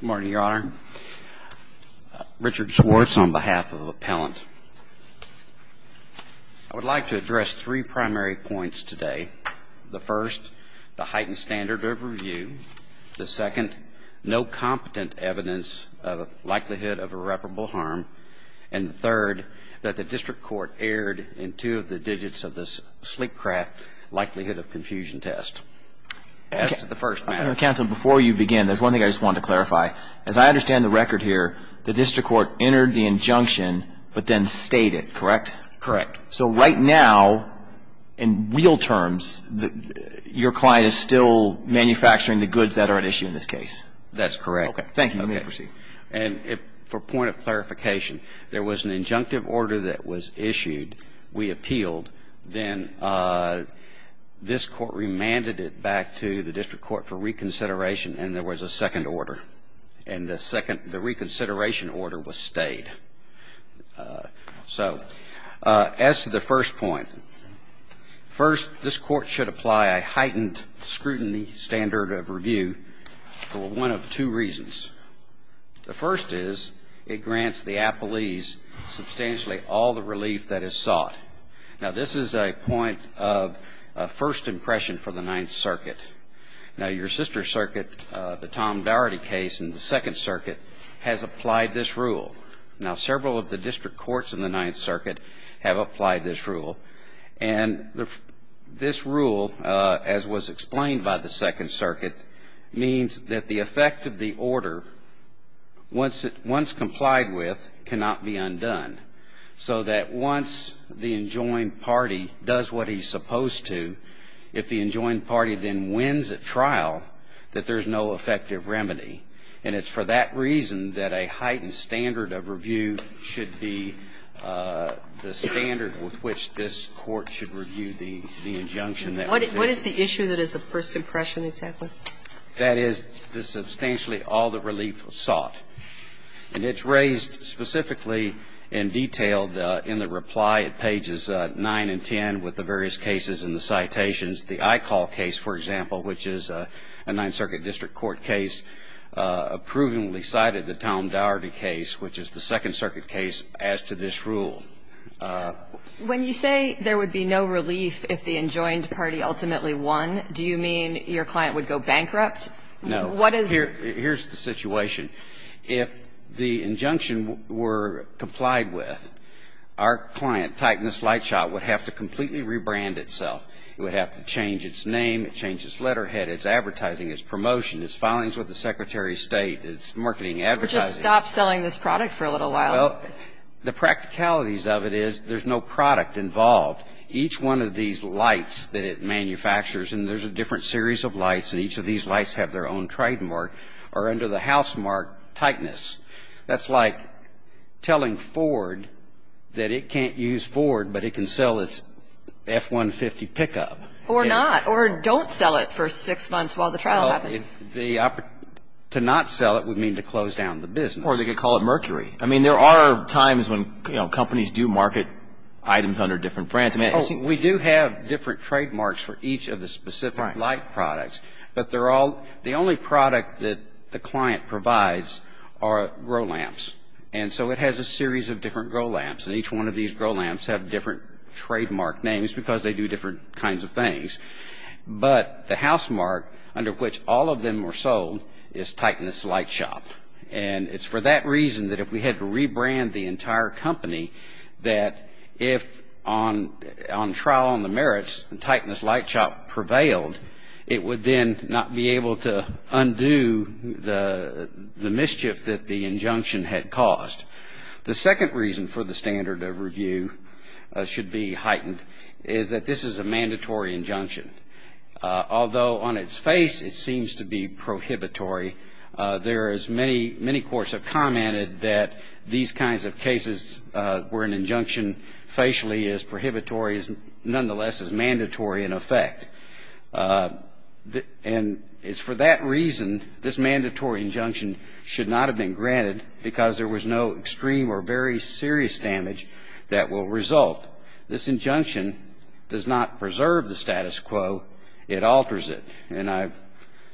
Good morning, Your Honor. Richard Schwartz on behalf of Appellant. I would like to address three primary points today. The first, the heightened standard of review. The second, no competent evidence of likelihood of irreparable harm. And third, that the district court erred in two of the digits of this sleep craft likelihood of confusion test. As to the first matter. Your Honor, counsel, before you begin, there's one thing I just want to clarify. As I understand the record here, the district court entered the injunction, but then stayed it, correct? Correct. So right now, in real terms, your client is still manufacturing the goods that are at issue in this case? That's correct. Okay. Thank you. Let me proceed. And for point of clarification, there was an injunctive order that was issued, we appealed, then this court remanded it back to the district court for reconsideration, and there was a second order. And the second, the reconsideration order was stayed. So as to the first point, first, this court should apply a heightened scrutiny standard of review for one of two reasons. The first is it grants the appellees substantially all the relief that is sought. Now, this is a point of first impression for the Ninth Circuit. Now, your sister circuit, the Tom Doherty case in the Second Circuit, has applied this rule. Now, several of the district courts in the Ninth Circuit have applied this rule. And this rule, as was explained by the Second Circuit, means that the effect of the order, once complied with, cannot be undone. So that once the enjoined party does what he's supposed to, if the enjoined party then wins at trial, that there's no effective remedy. And it's for that reason that a heightened standard of review should be the standard with which this court should review the injunction that was issued. What is the issue that is a first impression exactly? That is the substantially all the relief sought. And it's raised specifically and detailed in the reply at pages 9 and 10 with the various cases and the citations. The Eichol case, for example, which is a Ninth Circuit district court case, approvingly cited the Tom Doherty case, which is the Second Circuit case, as to this rule. When you say there would be no relief if the enjoined party ultimately won, do you mean your client would go bankrupt? No. What is the? Here's the situation. If the injunction were complied with, our client, Titanus Lightshot, would have to completely rebrand itself. It would have to change its name. It would have to change its letterhead, its advertising, its promotion, its filings with the Secretary of State, its marketing advertising. Or just stop selling this product for a little while. Well, the practicalities of it is there's no product involved. Each one of these lights that it manufactures, and there's a different series of lights, and each of these lights have their own trademark, or under the housemark, Titanus. That's like telling Ford that it can't use Ford, but it can sell its F-150 pickup. Or not. Or don't sell it for six months while the trial happens. To not sell it would mean to close down the business. Or they could call it Mercury. I mean, there are times when, you know, companies do market items under different brands. We do have different trademarks for each of the specific light products. But they're all the only product that the client provides are grow lamps. And so it has a series of different grow lamps. And each one of these grow lamps have different trademark names because they do different kinds of things. But the housemark under which all of them were sold is Titanus Lightshot. And it's for that reason that if we had to rebrand the entire company, that if on trial on the merits, Titanus Lightshot prevailed, it would then not be able to undo the mischief that the injunction had caused. The second reason for the standard of review should be heightened, is that this is a mandatory injunction. Although on its face it seems to be prohibitory, there is many courts have commented that these kinds of cases where an injunction facially is prohibitory is nonetheless is mandatory in effect. And it's for that reason this mandatory injunction should not have been granted because there was no extreme or very serious damage that will result. This injunction does not preserve the status quo. It alters it. And I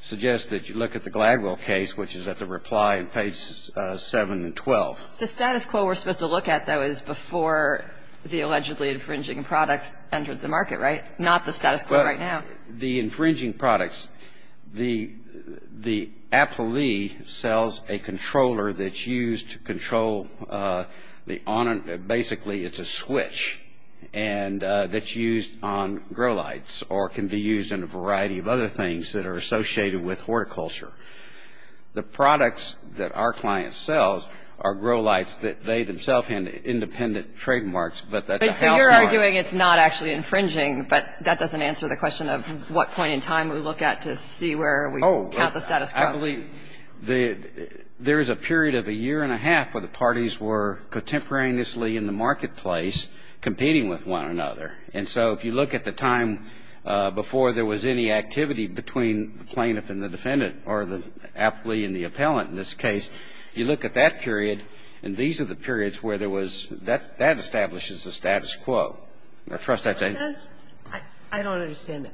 suggest that you look at the Gladwell case, which is at the reply on pages 7 and 12. The status quo we're supposed to look at, though, is before the allegedly infringing products entered the market, right? Not the status quo right now. The infringing products. The appellee sells a controller that's used to control the honor. Basically, it's a switch. And that's used on grow lights or can be used in a variety of other things that are associated with horticulture. The products that our client sells are grow lights that they themselves have independent trademarks. And so you're arguing it's not actually infringing, but that doesn't answer the question of what point in time we look at to see where we count the status quo. Oh, I believe there is a period of a year and a half where the parties were contemporaneously in the marketplace competing with one another. And so if you look at the time before there was any activity between the plaintiff and the defendant or the appellee and the appellant in this case, you look at that period, and these are the periods where there was that establishes the status quo. I trust that's it. I don't understand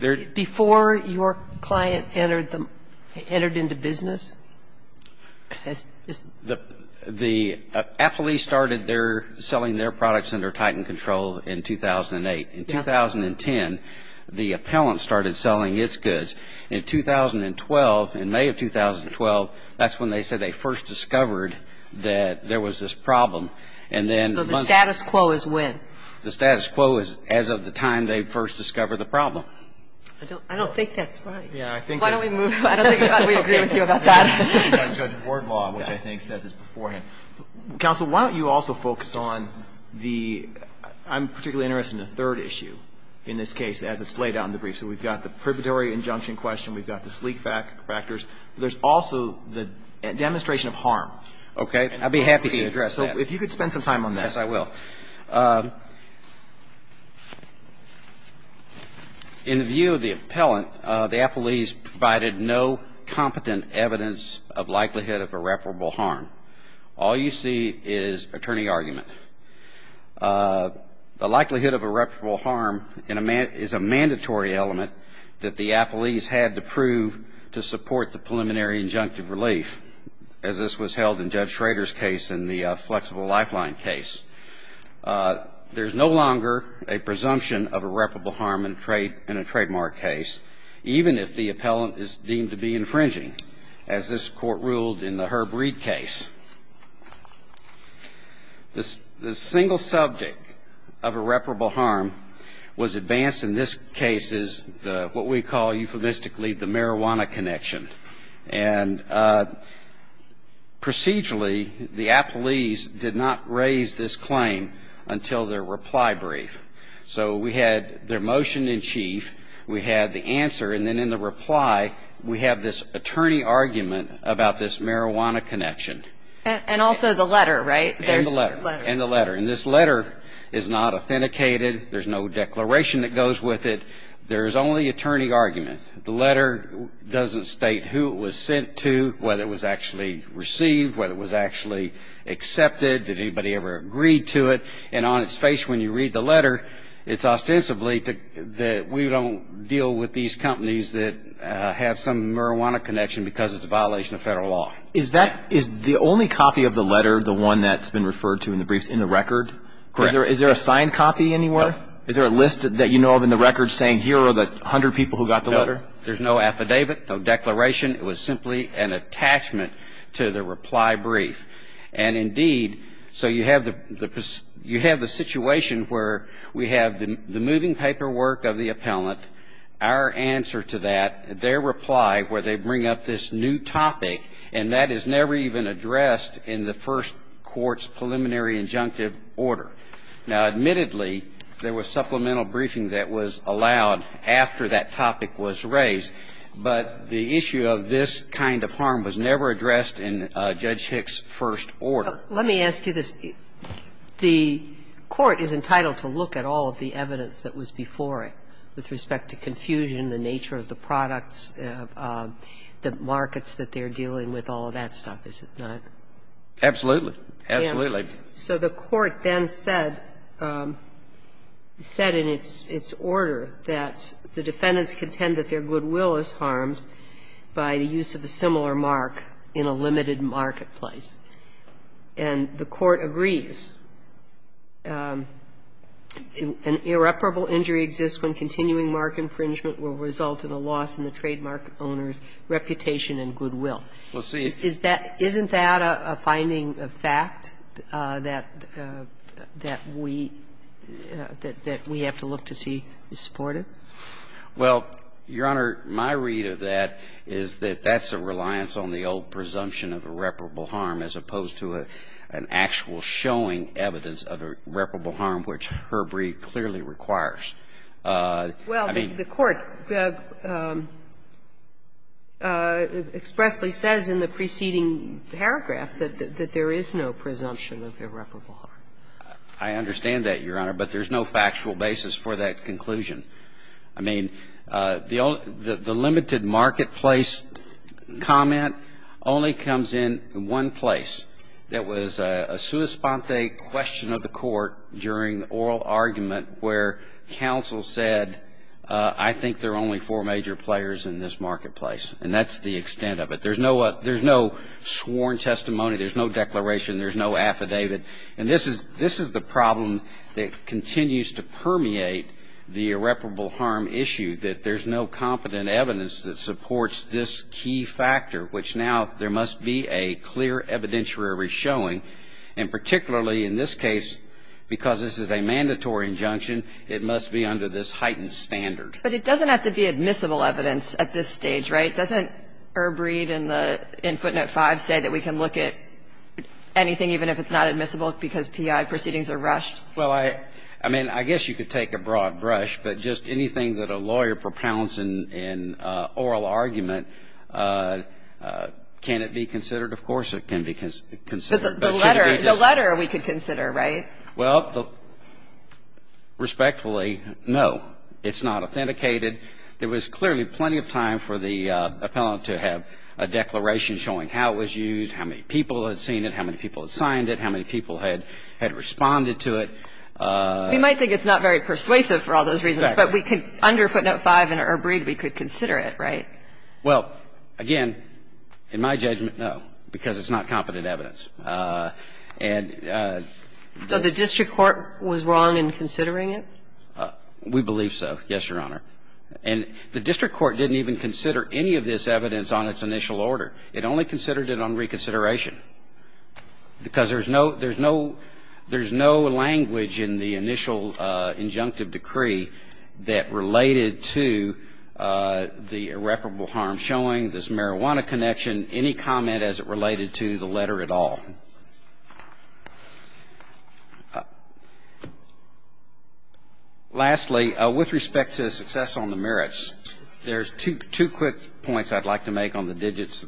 that. Before your client entered into business? The appellee started selling their products under Titan control in 2008. In 2010, the appellant started selling its goods. In 2012, in May of 2012, that's when they said they first discovered that there was this problem. So the status quo is when? The status quo is as of the time they first discovered the problem. I don't think that's right. Why don't we move on? I don't think we agree with you about that. Judge Board Law, which I think says it beforehand. Counsel, why don't you also focus on the ‑‑ I'm particularly interested in the third issue in this case as it's laid out in the brief. So we've got the preparatory injunction question. We've got the sleek factors. There's also the demonstration of harm. Okay. I'd be happy to address that. So if you could spend some time on that. Yes, I will. In the view of the appellant, the appellees provided no competent evidence of likelihood of irreparable harm. All you see is attorney argument. The likelihood of irreparable harm is a mandatory element that the appellees had to prove to support the preliminary injunctive relief, as this was held in Judge Schrader's case in the flexible lifeline case. There's no longer a presumption of irreparable harm in a trademark case, even if the appellant is deemed to be infringing, as this Court ruled in the Herb Reed case. The single subject of irreparable harm was advanced in this case as what we call euphemistically the marijuana connection. And procedurally, the appellees did not raise this claim until their reply brief. So we had their motion in chief. We had the answer. And then in the reply, we have this attorney argument about this marijuana connection. And also the letter, right? And the letter. And the letter. And this letter is not authenticated. There's no declaration that goes with it. There's only attorney argument. The letter doesn't state who it was sent to, whether it was actually received, whether it was actually accepted. Did anybody ever agree to it? And on its face when you read the letter, it's ostensibly that we don't deal with these companies that have some marijuana connection because it's a violation of federal law. Is that the only copy of the letter, the one that's been referred to in the briefs, in the record? Correct. Is there a signed copy anywhere? No. Is there a list that you know of in the records saying here are the 100 people who got the letter? No. There's no affidavit, no declaration. It was simply an attachment to the reply brief. And, indeed, so you have the situation where we have the moving paperwork of the appellant, our answer to that, their reply, where they bring up this new topic, and that is never even addressed in the first court's preliminary injunctive order. Now, admittedly, there was supplemental briefing that was allowed after that topic was raised, but the issue of this kind of harm was never addressed in Judge Hick's first order. Let me ask you this. The court is entitled to look at all of the evidence that was before it with respect to confusion, the nature of the products, the markets that they're dealing with, all of that stuff, is it not? Absolutely. Absolutely. So the court then said, said in its order that the defendants contend that their reputation and goodwill. Well, see. Isn't that a finding of fact that we have to look to see is supported? Well, Your Honor, my read of that is that that's a reasonable argument. I mean, I'm not saying that the court is going to have to rely on the old presumption of irreparable harm as opposed to an actual showing evidence of irreparable harm, which Herbrey clearly requires. Well, the court expressly says in the preceding paragraph that there is no presumption of irreparable harm. I understand that, Your Honor, but there's no factual basis for that conclusion. I mean, the limited marketplace comment only comes in one place. There was a sua sponte question of the court during the oral argument where counsel said, I think there are only four major players in this marketplace, and that's the extent of it. There's no sworn testimony. There's no declaration. There's no affidavit. And this is the problem that continues to permeate the irreparable harm issue, that there's no competent evidence that supports this key factor, which now there must be a clear evidentiary showing. And particularly in this case, because this is a mandatory injunction, it must be under this heightened standard. But it doesn't have to be admissible evidence at this stage, right? But doesn't Erbreed in footnote 5 say that we can look at anything even if it's not admissible because P.I. proceedings are rushed? Well, I mean, I guess you could take a broad brush, but just anything that a lawyer propounds in an oral argument, can it be considered? Of course it can be considered. But the letter, the letter we could consider, right? Well, respectfully, no. It's not authenticated. There was clearly plenty of time for the appellant to have a declaration showing how it was used, how many people had seen it, how many people had signed it, how many people had responded to it. We might think it's not very persuasive for all those reasons. Exactly. But under footnote 5 in Erbreed, we could consider it, right? Well, again, in my judgment, no, because it's not competent evidence. And so the district court was wrong in considering it? We believe so, yes, Your Honor. And the district court didn't even consider any of this evidence on its initial order. It only considered it on reconsideration because there's no, there's no, there's no language in the initial injunctive decree that related to the irreparable harm showing, this marijuana connection, any comment as it related to the letter at all. Lastly, with respect to success on the merits, there's two quick points I'd like to make on the digits.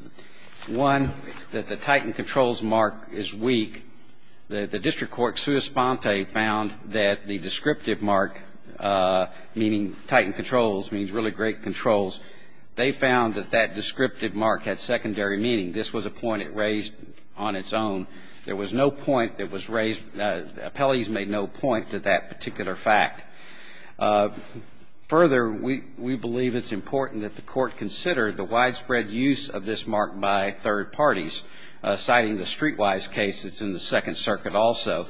One, that the Titan controls mark is weak. The district court, sua sponte, found that the descriptive mark, meaning Titan controls, means really great controls. They found that that descriptive mark had secondary meaning. This was a point it raised on its own. There was no point that was raised, the appellees made no point to that particular fact. Further, we believe it's important that the court consider the widespread use of this mark by third parties, citing the Streetwise case that's in the Second Circuit also.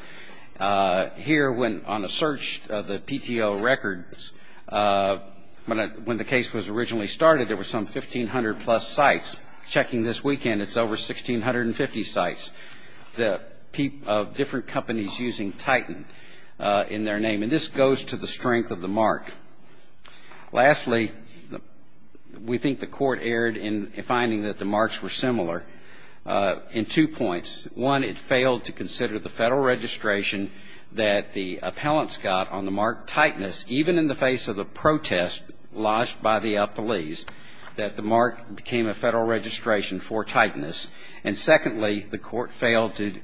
Here, when, on a search of the PTO records, when the case was originally started, there were some 1,500 plus sites. Checking this weekend, it's over 1,650 sites of different companies using Titan in their name. And this goes to the strength of the mark. Lastly, we think the court erred in finding that the marks were similar in two points. One, it failed to consider the federal registration that the appellants got on the mark Titanus, even in the face of the protest lodged by the appellees, that the federal registration for Titanus. And secondly, the court failed to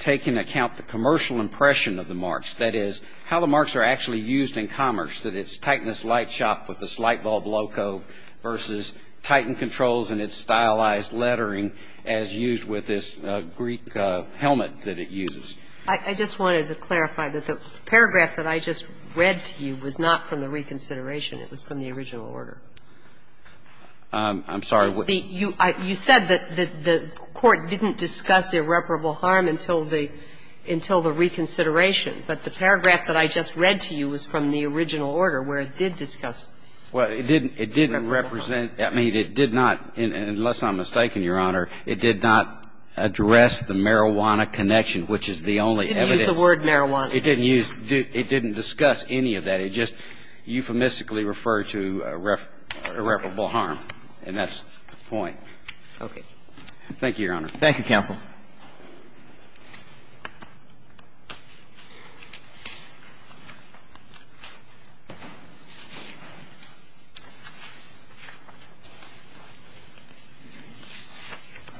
take into account the commercial impression of the marks, that is, how the marks are actually used in commerce, that it's Titanus Light Shop with this light bulb loco versus Titan Controls and its stylized lettering as used with this Greek helmet that it uses. I just wanted to clarify that the paragraph that I just read to you was not from the reconsideration. It was from the original order. I'm sorry. You said that the court didn't discuss irreparable harm until the reconsideration. But the paragraph that I just read to you was from the original order where it did discuss irreparable harm. Well, it didn't represent ñ I mean, it did not, unless I'm mistaken, Your Honor, it did not address the marijuana connection, which is the only evidence. It didn't use the word marijuana. It didn't use ñ it didn't discuss any of that. It just euphemistically referred to irreparable harm, and that's the point. Okay. Thank you, Your Honor. Thank you, counsel.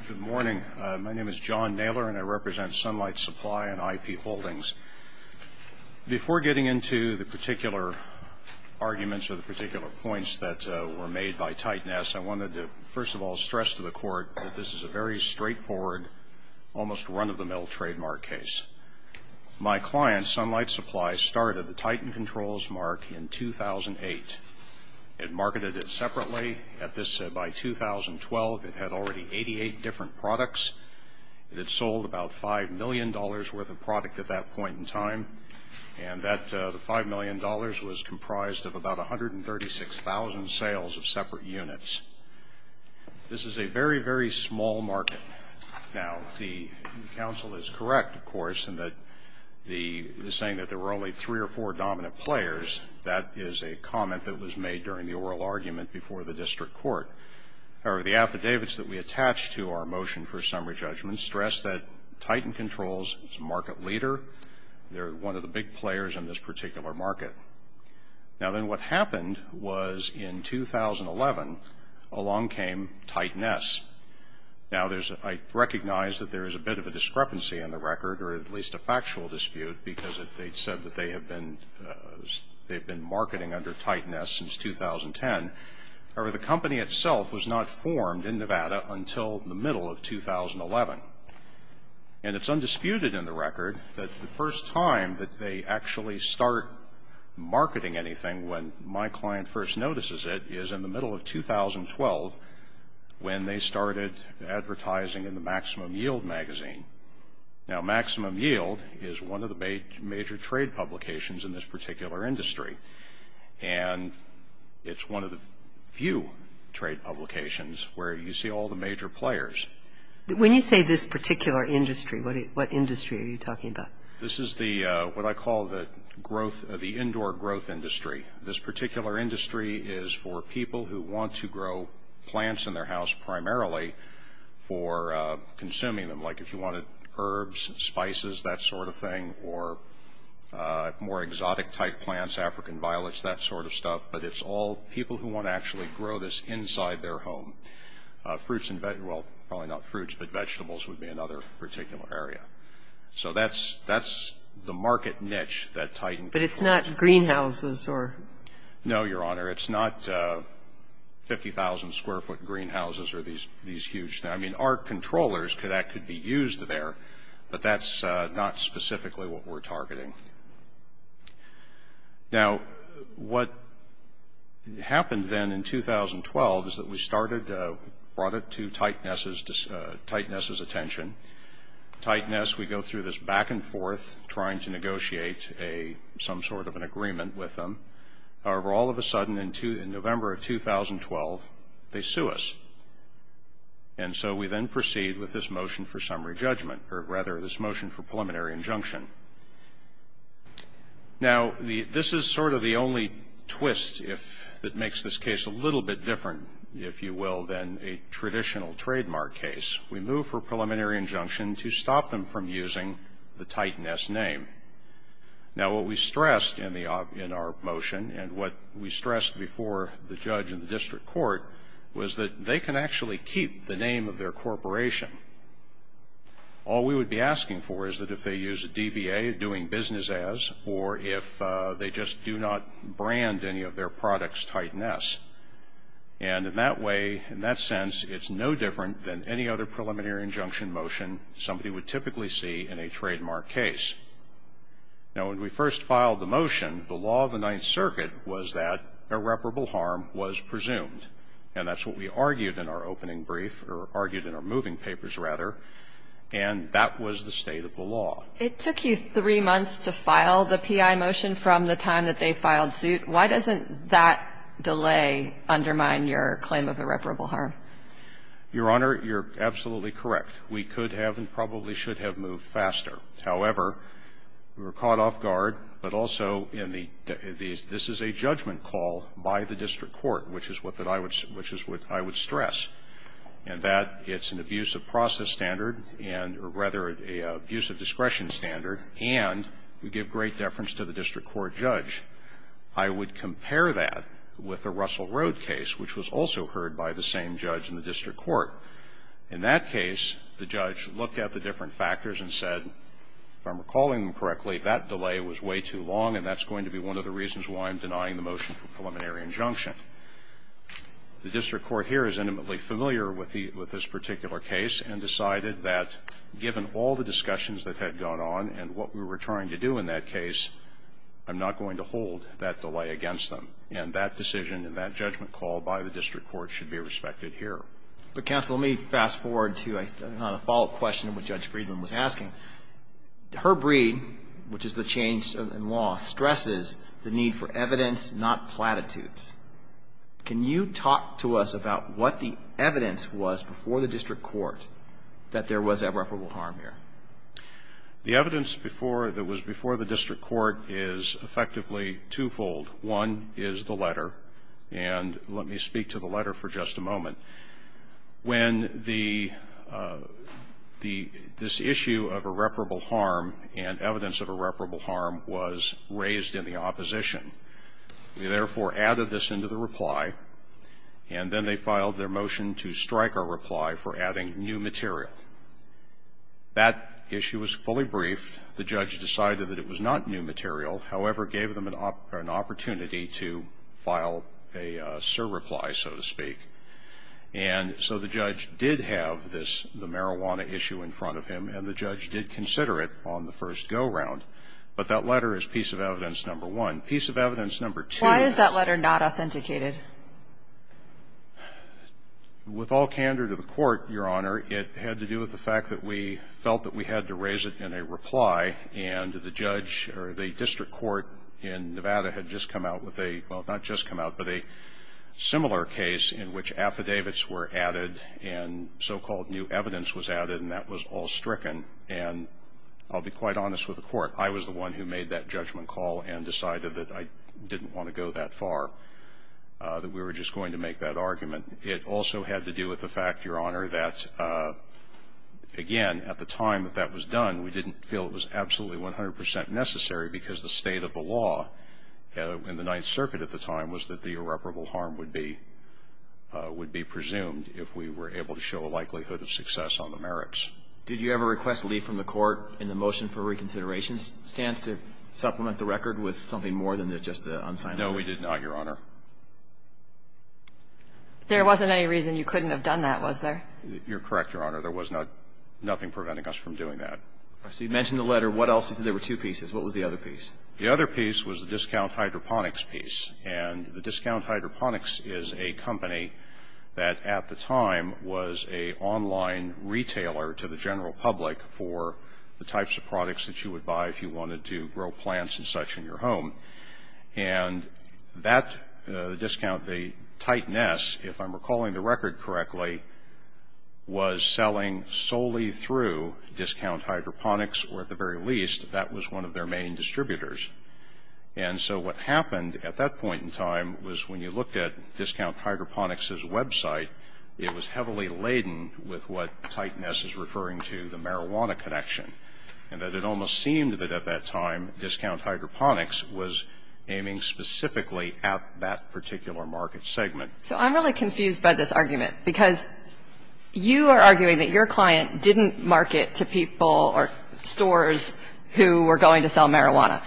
Good morning. My name is John Naylor, and I represent Sunlight Supply and IP Holdings. Before getting into the particular arguments or the particular points that were made by Titan S, I wanted to, first of all, stress to the court that this is a very straightforward, almost run-of-the-mill trademark case. My client, Sunlight Supply, started the Titan Controls mark in 2008. It marketed it separately. At this ñ by 2012, it had already 88 different products. It had sold about $5 million worth of product at that point in time, and that ñ the $5 million was comprised of about 136,000 sales of separate units. This is a very, very small market. Now, the counsel is correct, of course, in that the saying that there were only three or four dominant players, that is a comment that was made during the oral argument before the district court. However, the affidavits that we attach to our motion for summary judgment stress that Titan Controls is a market leader. Theyíre one of the big players in this particular market. Now, then, what happened was, in 2011, along came Titan S. Now, thereís ñ I recognize that there is a bit of a discrepancy in the record, or at least a factual dispute, because they said that they have been ñ theyíve been marketing under Titan S since 2010. However, the company itself was not formed in Nevada until the middle of 2011. And itís undisputed in the record that the first time that they actually start marketing anything, when my client first notices it, is in the middle of 2012, when they started advertising in the Maximum Yield magazine. Now, Maximum Yield is one of the major trade publications in this particular industry, and itís one of the few trade publications where you see all the major players. When you say this particular industry, what industry are you talking about? This is the ñ what I call the growth ñ the indoor growth industry. This particular industry is for people who want to grow plants in their house primarily for consuming them, like if you wanted herbs, spices, that sort of thing, or more exotic-type plants, African violets, that sort of stuff. But itís all people who want to actually grow this inside their home. Fruits and ñ well, probably not fruits, but vegetables would be another particular area. So thatís ñ thatís the market niche that Titan controls. But itís not greenhouses or ñ No, Your Honor. Itís not 50,000-square-foot greenhouses or these huge ñ I mean, our controllers, that could be used there, but thatís not specifically what weíre targeting. Now, what happened then in 2012 is that we started ñ brought it to Titan Sís ñ Titan Sís attention. Titan S, we go through this back and forth, trying to negotiate a ñ some sort of an agreement with them. However, all of a sudden, in November of 2012, they sue us. And so we then proceed with this motion for summary judgment, or rather, this motion for preliminary injunction. Now, the ñ this is sort of the only twist if ñ that makes this case a little bit different, if you will, than a traditional trademark case. We move for preliminary injunction to stop them from using the Titan S name. Now, what we stressed in the ñ in our motion, and what we stressed before the name of their corporation. All we would be asking for is that if they use a DBA, doing business as, or if they just do not brand any of their products Titan S. And in that way, in that sense, itís no different than any other preliminary injunction motion somebody would typically see in a trademark case. Now, when we first filed the motion, the law of the Ninth Circuit was that irreparable harm was presumed. And thatís what we argued in our opening brief, or argued in our moving papers, rather. And that was the state of the law. It took you three months to file the PI motion from the time that they filed suit. Why doesnít that delay undermine your claim of irreparable harm? Your Honor, youíre absolutely correct. We could have and probably should have moved faster. However, we were caught off guard. But also in the ñ this is a judgment call by the district court, which is what I would ñ which is what I would stress, and that itís an abuse of process standard and ñ or rather, an abuse of discretion standard and would give great deference to the district court judge. I would compare that with the Russell Road case, which was also heard by the same judge in the district court. In that case, the judge looked at the different factors and said, if Iím recalling them correctly, that delay was way too long and thatís going to be one of the reasons why Iím denying the motion for preliminary injunction. The district court here is intimately familiar with the ñ with this particular case and decided that, given all the discussions that had gone on and what we were trying to do in that case, Iím not going to hold that delay against them. And that decision and that judgment call by the district court should be respected here. But, counsel, let me fast-forward to a ñ on a follow-up question of what Judge Friedman was asking. Herbread, which is the change in law, stresses the need for evidence, not platitudes. Can you talk to us about what the evidence was before the district court that there was irreparable harm here? The evidence before ñ that was before the district court is effectively twofold. One is the letter, and let me speak to the letter for just a moment. When the ñ this issue of irreparable harm and evidence of irreparable harm was raised in the opposition, we therefore added this into the reply, and then they filed their motion to strike our reply for adding new material. That issue was fully briefed. The judge decided that it was not new material, however, gave them an opportunity to file a surreply, so to speak. And so the judge did have this ñ the marijuana issue in front of him, and the judge did consider it on the first go-round. But that letter is piece of evidence number one. Piece of evidence number two ñ Why is that letter not authenticated? With all candor to the court, Your Honor, it had to do with the fact that we felt that we had to raise it in a reply, and the judge ñ or the district court in Nevada had just come out with a ñ well, not just come out, but a similar case in which affidavits were added and so-called new evidence was added, and that was all stricken. And I'll be quite honest with the Court. I was the one who made that judgment call and decided that I didn't want to go that far, that we were just going to make that argument. It also had to do with the fact, Your Honor, that, again, at the time that that was in the Ninth Circuit at the time was that the irreparable harm would be ñ would be presumed if we were able to show a likelihood of success on the merits. Did you ever request leave from the court in the motion for reconsideration stance to supplement the record with something more than just the unsigned letter? No, we did not, Your Honor. There wasn't any reason you couldn't have done that, was there? You're correct, Your Honor. There was not ñ nothing preventing us from doing that. So you mentioned the letter. You said there were two pieces. What was the other piece? The other piece was the discount hydroponics piece. And the discount hydroponics is a company that at the time was an online retailer to the general public for the types of products that you would buy if you wanted to grow plants and such in your home. And that discount, the Titan S, if I'm recalling the record correctly, was selling solely through discount hydroponics, or at the very least, that was one of their main distributors. And so what happened at that point in time was when you looked at discount hydroponics's website, it was heavily laden with what Titan S is referring to, the marijuana connection, and that it almost seemed that at that time discount hydroponics was aiming specifically at that particular market segment. So I'm really confused by this argument, because you are arguing that your client didn't market to people or stores who were going to sell marijuana.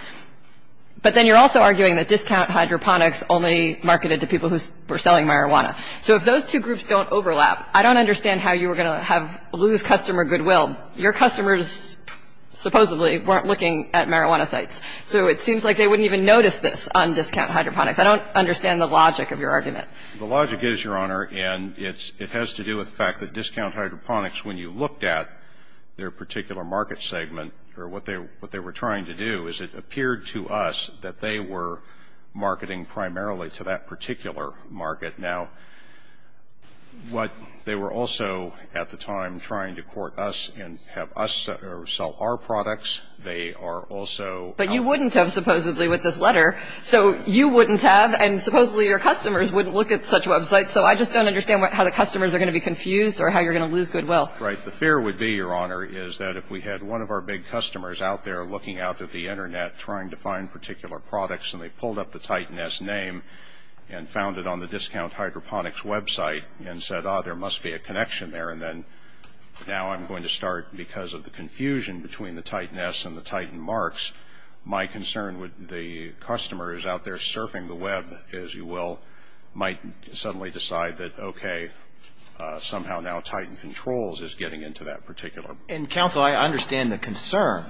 But then you're also arguing that discount hydroponics only marketed to people who were selling marijuana. So if those two groups don't overlap, I don't understand how you were going to have lose customer goodwill. Your customers supposedly weren't looking at marijuana sites. So it seems like they wouldn't even notice this on discount hydroponics. I don't understand the logic of your argument. The logic is, Your Honor, and it has to do with the fact that discount hydroponics, when you looked at their particular market segment, or what they were trying to do, is it appeared to us that they were marketing primarily to that particular market. Now, what they were also at the time trying to court us and have us sell our products, they are also ---- But you wouldn't have supposedly with this letter. So you wouldn't have, and supposedly your customers wouldn't look at such websites. So I just don't understand how the customers are going to be confused or how you're going to lose goodwill. Right. The fear would be, Your Honor, is that if we had one of our big customers out there looking out at the Internet trying to find particular products, and they pulled up the Titan S name and found it on the discount hydroponics website and said, ah, there must be a connection there, and then now I'm going to start, because of the confusion between the Titan S and the Titan Marks, my concern would be the customers out there into that particular market. And counsel, I understand the concern,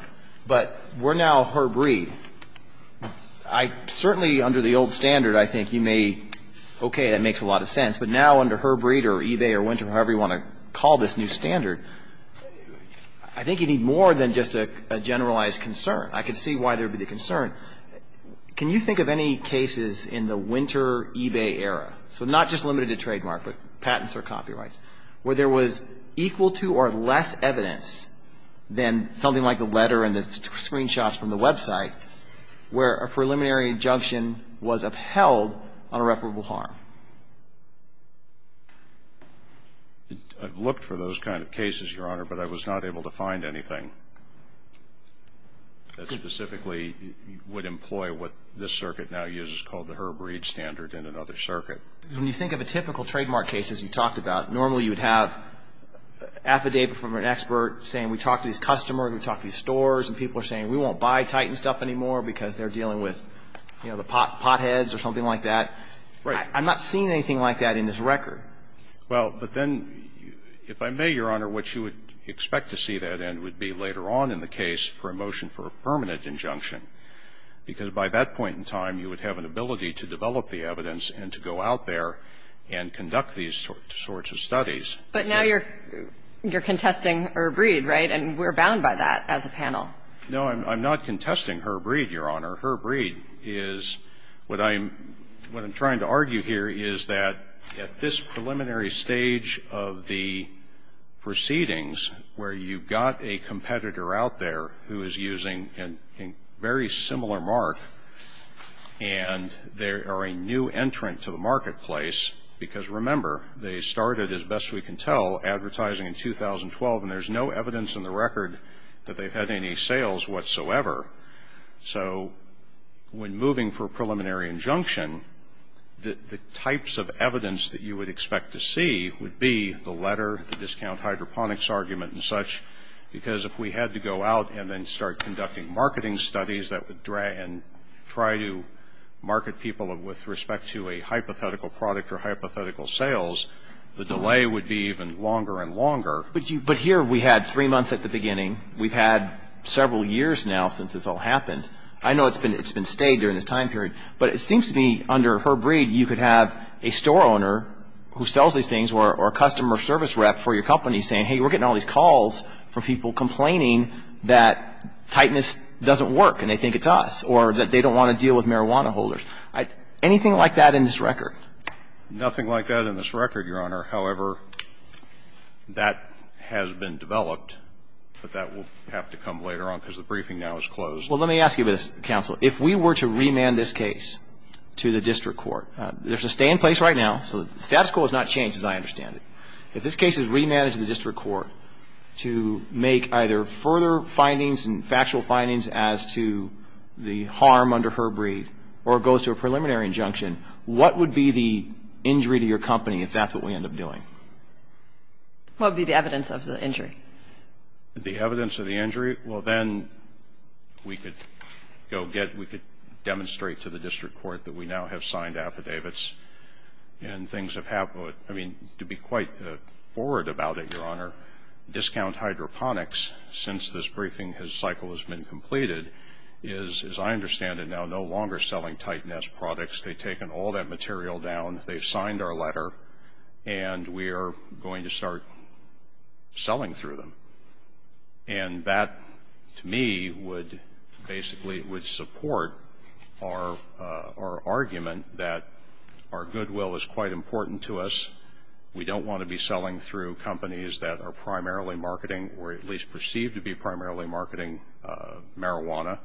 but we're now Herb Reid. I certainly under the old standard, I think you may, okay, that makes a lot of sense. But now under Herb Reid or eBay or Winter, however you want to call this new standard, I think you need more than just a generalized concern. I could see why there would be the concern. Can you think of any cases in the Winter eBay era, so not just limited to trademark, but patents or copyrights, where there was equal to or less evidence than something like the letter and the screenshots from the website where a preliminary injunction was upheld on irreparable harm? I've looked for those kind of cases, Your Honor, but I was not able to find anything that specifically would employ what this circuit now uses called the Herb Reid standard in another circuit. When you think of a typical trademark case, as you talked about, normally you would have affidavit from an expert saying we talked to these customers, we talked to these stores, and people are saying we won't buy Titan stuff anymore because they're dealing with, you know, the potheads or something like that. I'm not seeing anything like that in this record. Well, but then, if I may, Your Honor, what you would expect to see then would be later on in the case for a motion for a permanent injunction, because by that point in time you would have an ability to develop the evidence and to go out there and conduct these sorts of studies. But now you're contesting Herb Reid, right? And we're bound by that as a panel. No, I'm not contesting Herb Reid, Your Honor. Herb Reid is what I'm trying to argue here is that at this preliminary stage of the proceedings where you've got a competitor out there who is using a very similar mark, and they are a new entrant to the marketplace, because remember, they started, as best we can tell, advertising in 2012, and there's no evidence in the record that they've had any sales whatsoever. So when moving for a preliminary injunction, the types of evidence that you would expect to see would be the letter, the discount hydroponics argument and such, because if we had to go out and then start conducting marketing studies that would try to market people with respect to a hypothetical product or hypothetical sales, the delay would be even longer and longer. But here we had three months at the beginning. We've had several years now since this all happened. I know it's been stayed during this time period, but it seems to me under Herb Reid you could have a store owner who sells these things or a customer service rep for your And it seems to me that that's not the case. I mean, I'm not saying that tightness doesn't work and they think it's us or that they don't want to deal with marijuana holders. Anything like that in this record? Nothing like that in this record, Your Honor. However, that has been developed, but that will have to come later on because the briefing now is closed. Well, let me ask you this, counsel. If we were to remand this case to the district court, there's a stay in place right now, so the status quo has not changed as I understand it. If this case is remanded to the district court to make either further findings and factual findings as to the harm under Herb Reid or it goes to a preliminary injunction, what would be the injury to your company if that's what we end up doing? What would be the evidence of the injury? The evidence of the injury? Well, then we could go get we could demonstrate to the district court that we now have and things have happened. I mean, to be quite forward about it, Your Honor, discount hydroponics, since this briefing cycle has been completed, is, as I understand it now, no longer selling tightness products. They've taken all that material down, they've signed our letter, and we are going to start selling through them. And that, to me, would basically would support our argument that our goodwill is quite important to us. We don't want to be selling through companies that are primarily marketing or at least perceived to be primarily marketing marijuana.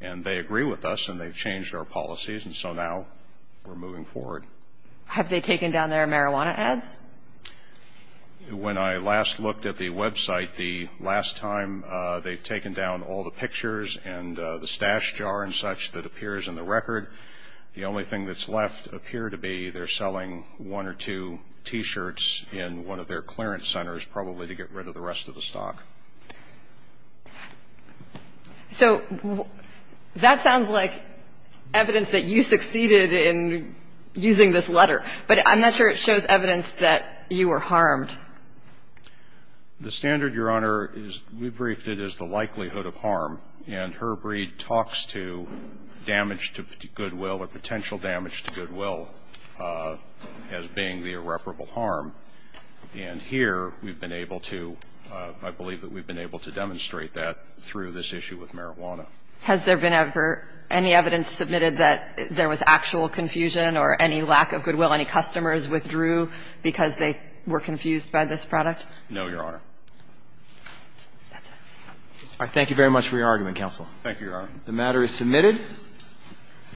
And they agree with us and they've changed our policies, and so now we're moving forward. Have they taken down their marijuana ads? When I last looked at the website, the last time they've taken down all the pictures and the stash jar and such that appears in the record, the only thing that's left appear to be they're selling one or two T-shirts in one of their clearance centers, probably to get rid of the rest of the stock. So that sounds like evidence that you succeeded in using this letter. But I'm not sure it shows evidence that you were harmed. The standard, Your Honor, is we briefed it as the likelihood of harm. And Herbreed talks to damage to goodwill or potential damage to goodwill as being the irreparable harm. And here we've been able to, I believe that we've been able to demonstrate that through this issue with marijuana. Has there been ever any evidence submitted that there was actual confusion or any lack of goodwill, any customers withdrew because they were confused by this product? No, Your Honor. That's it. All right. Thank you very much for your argument, counsel. Thank you, Your Honor. The matter is submitted.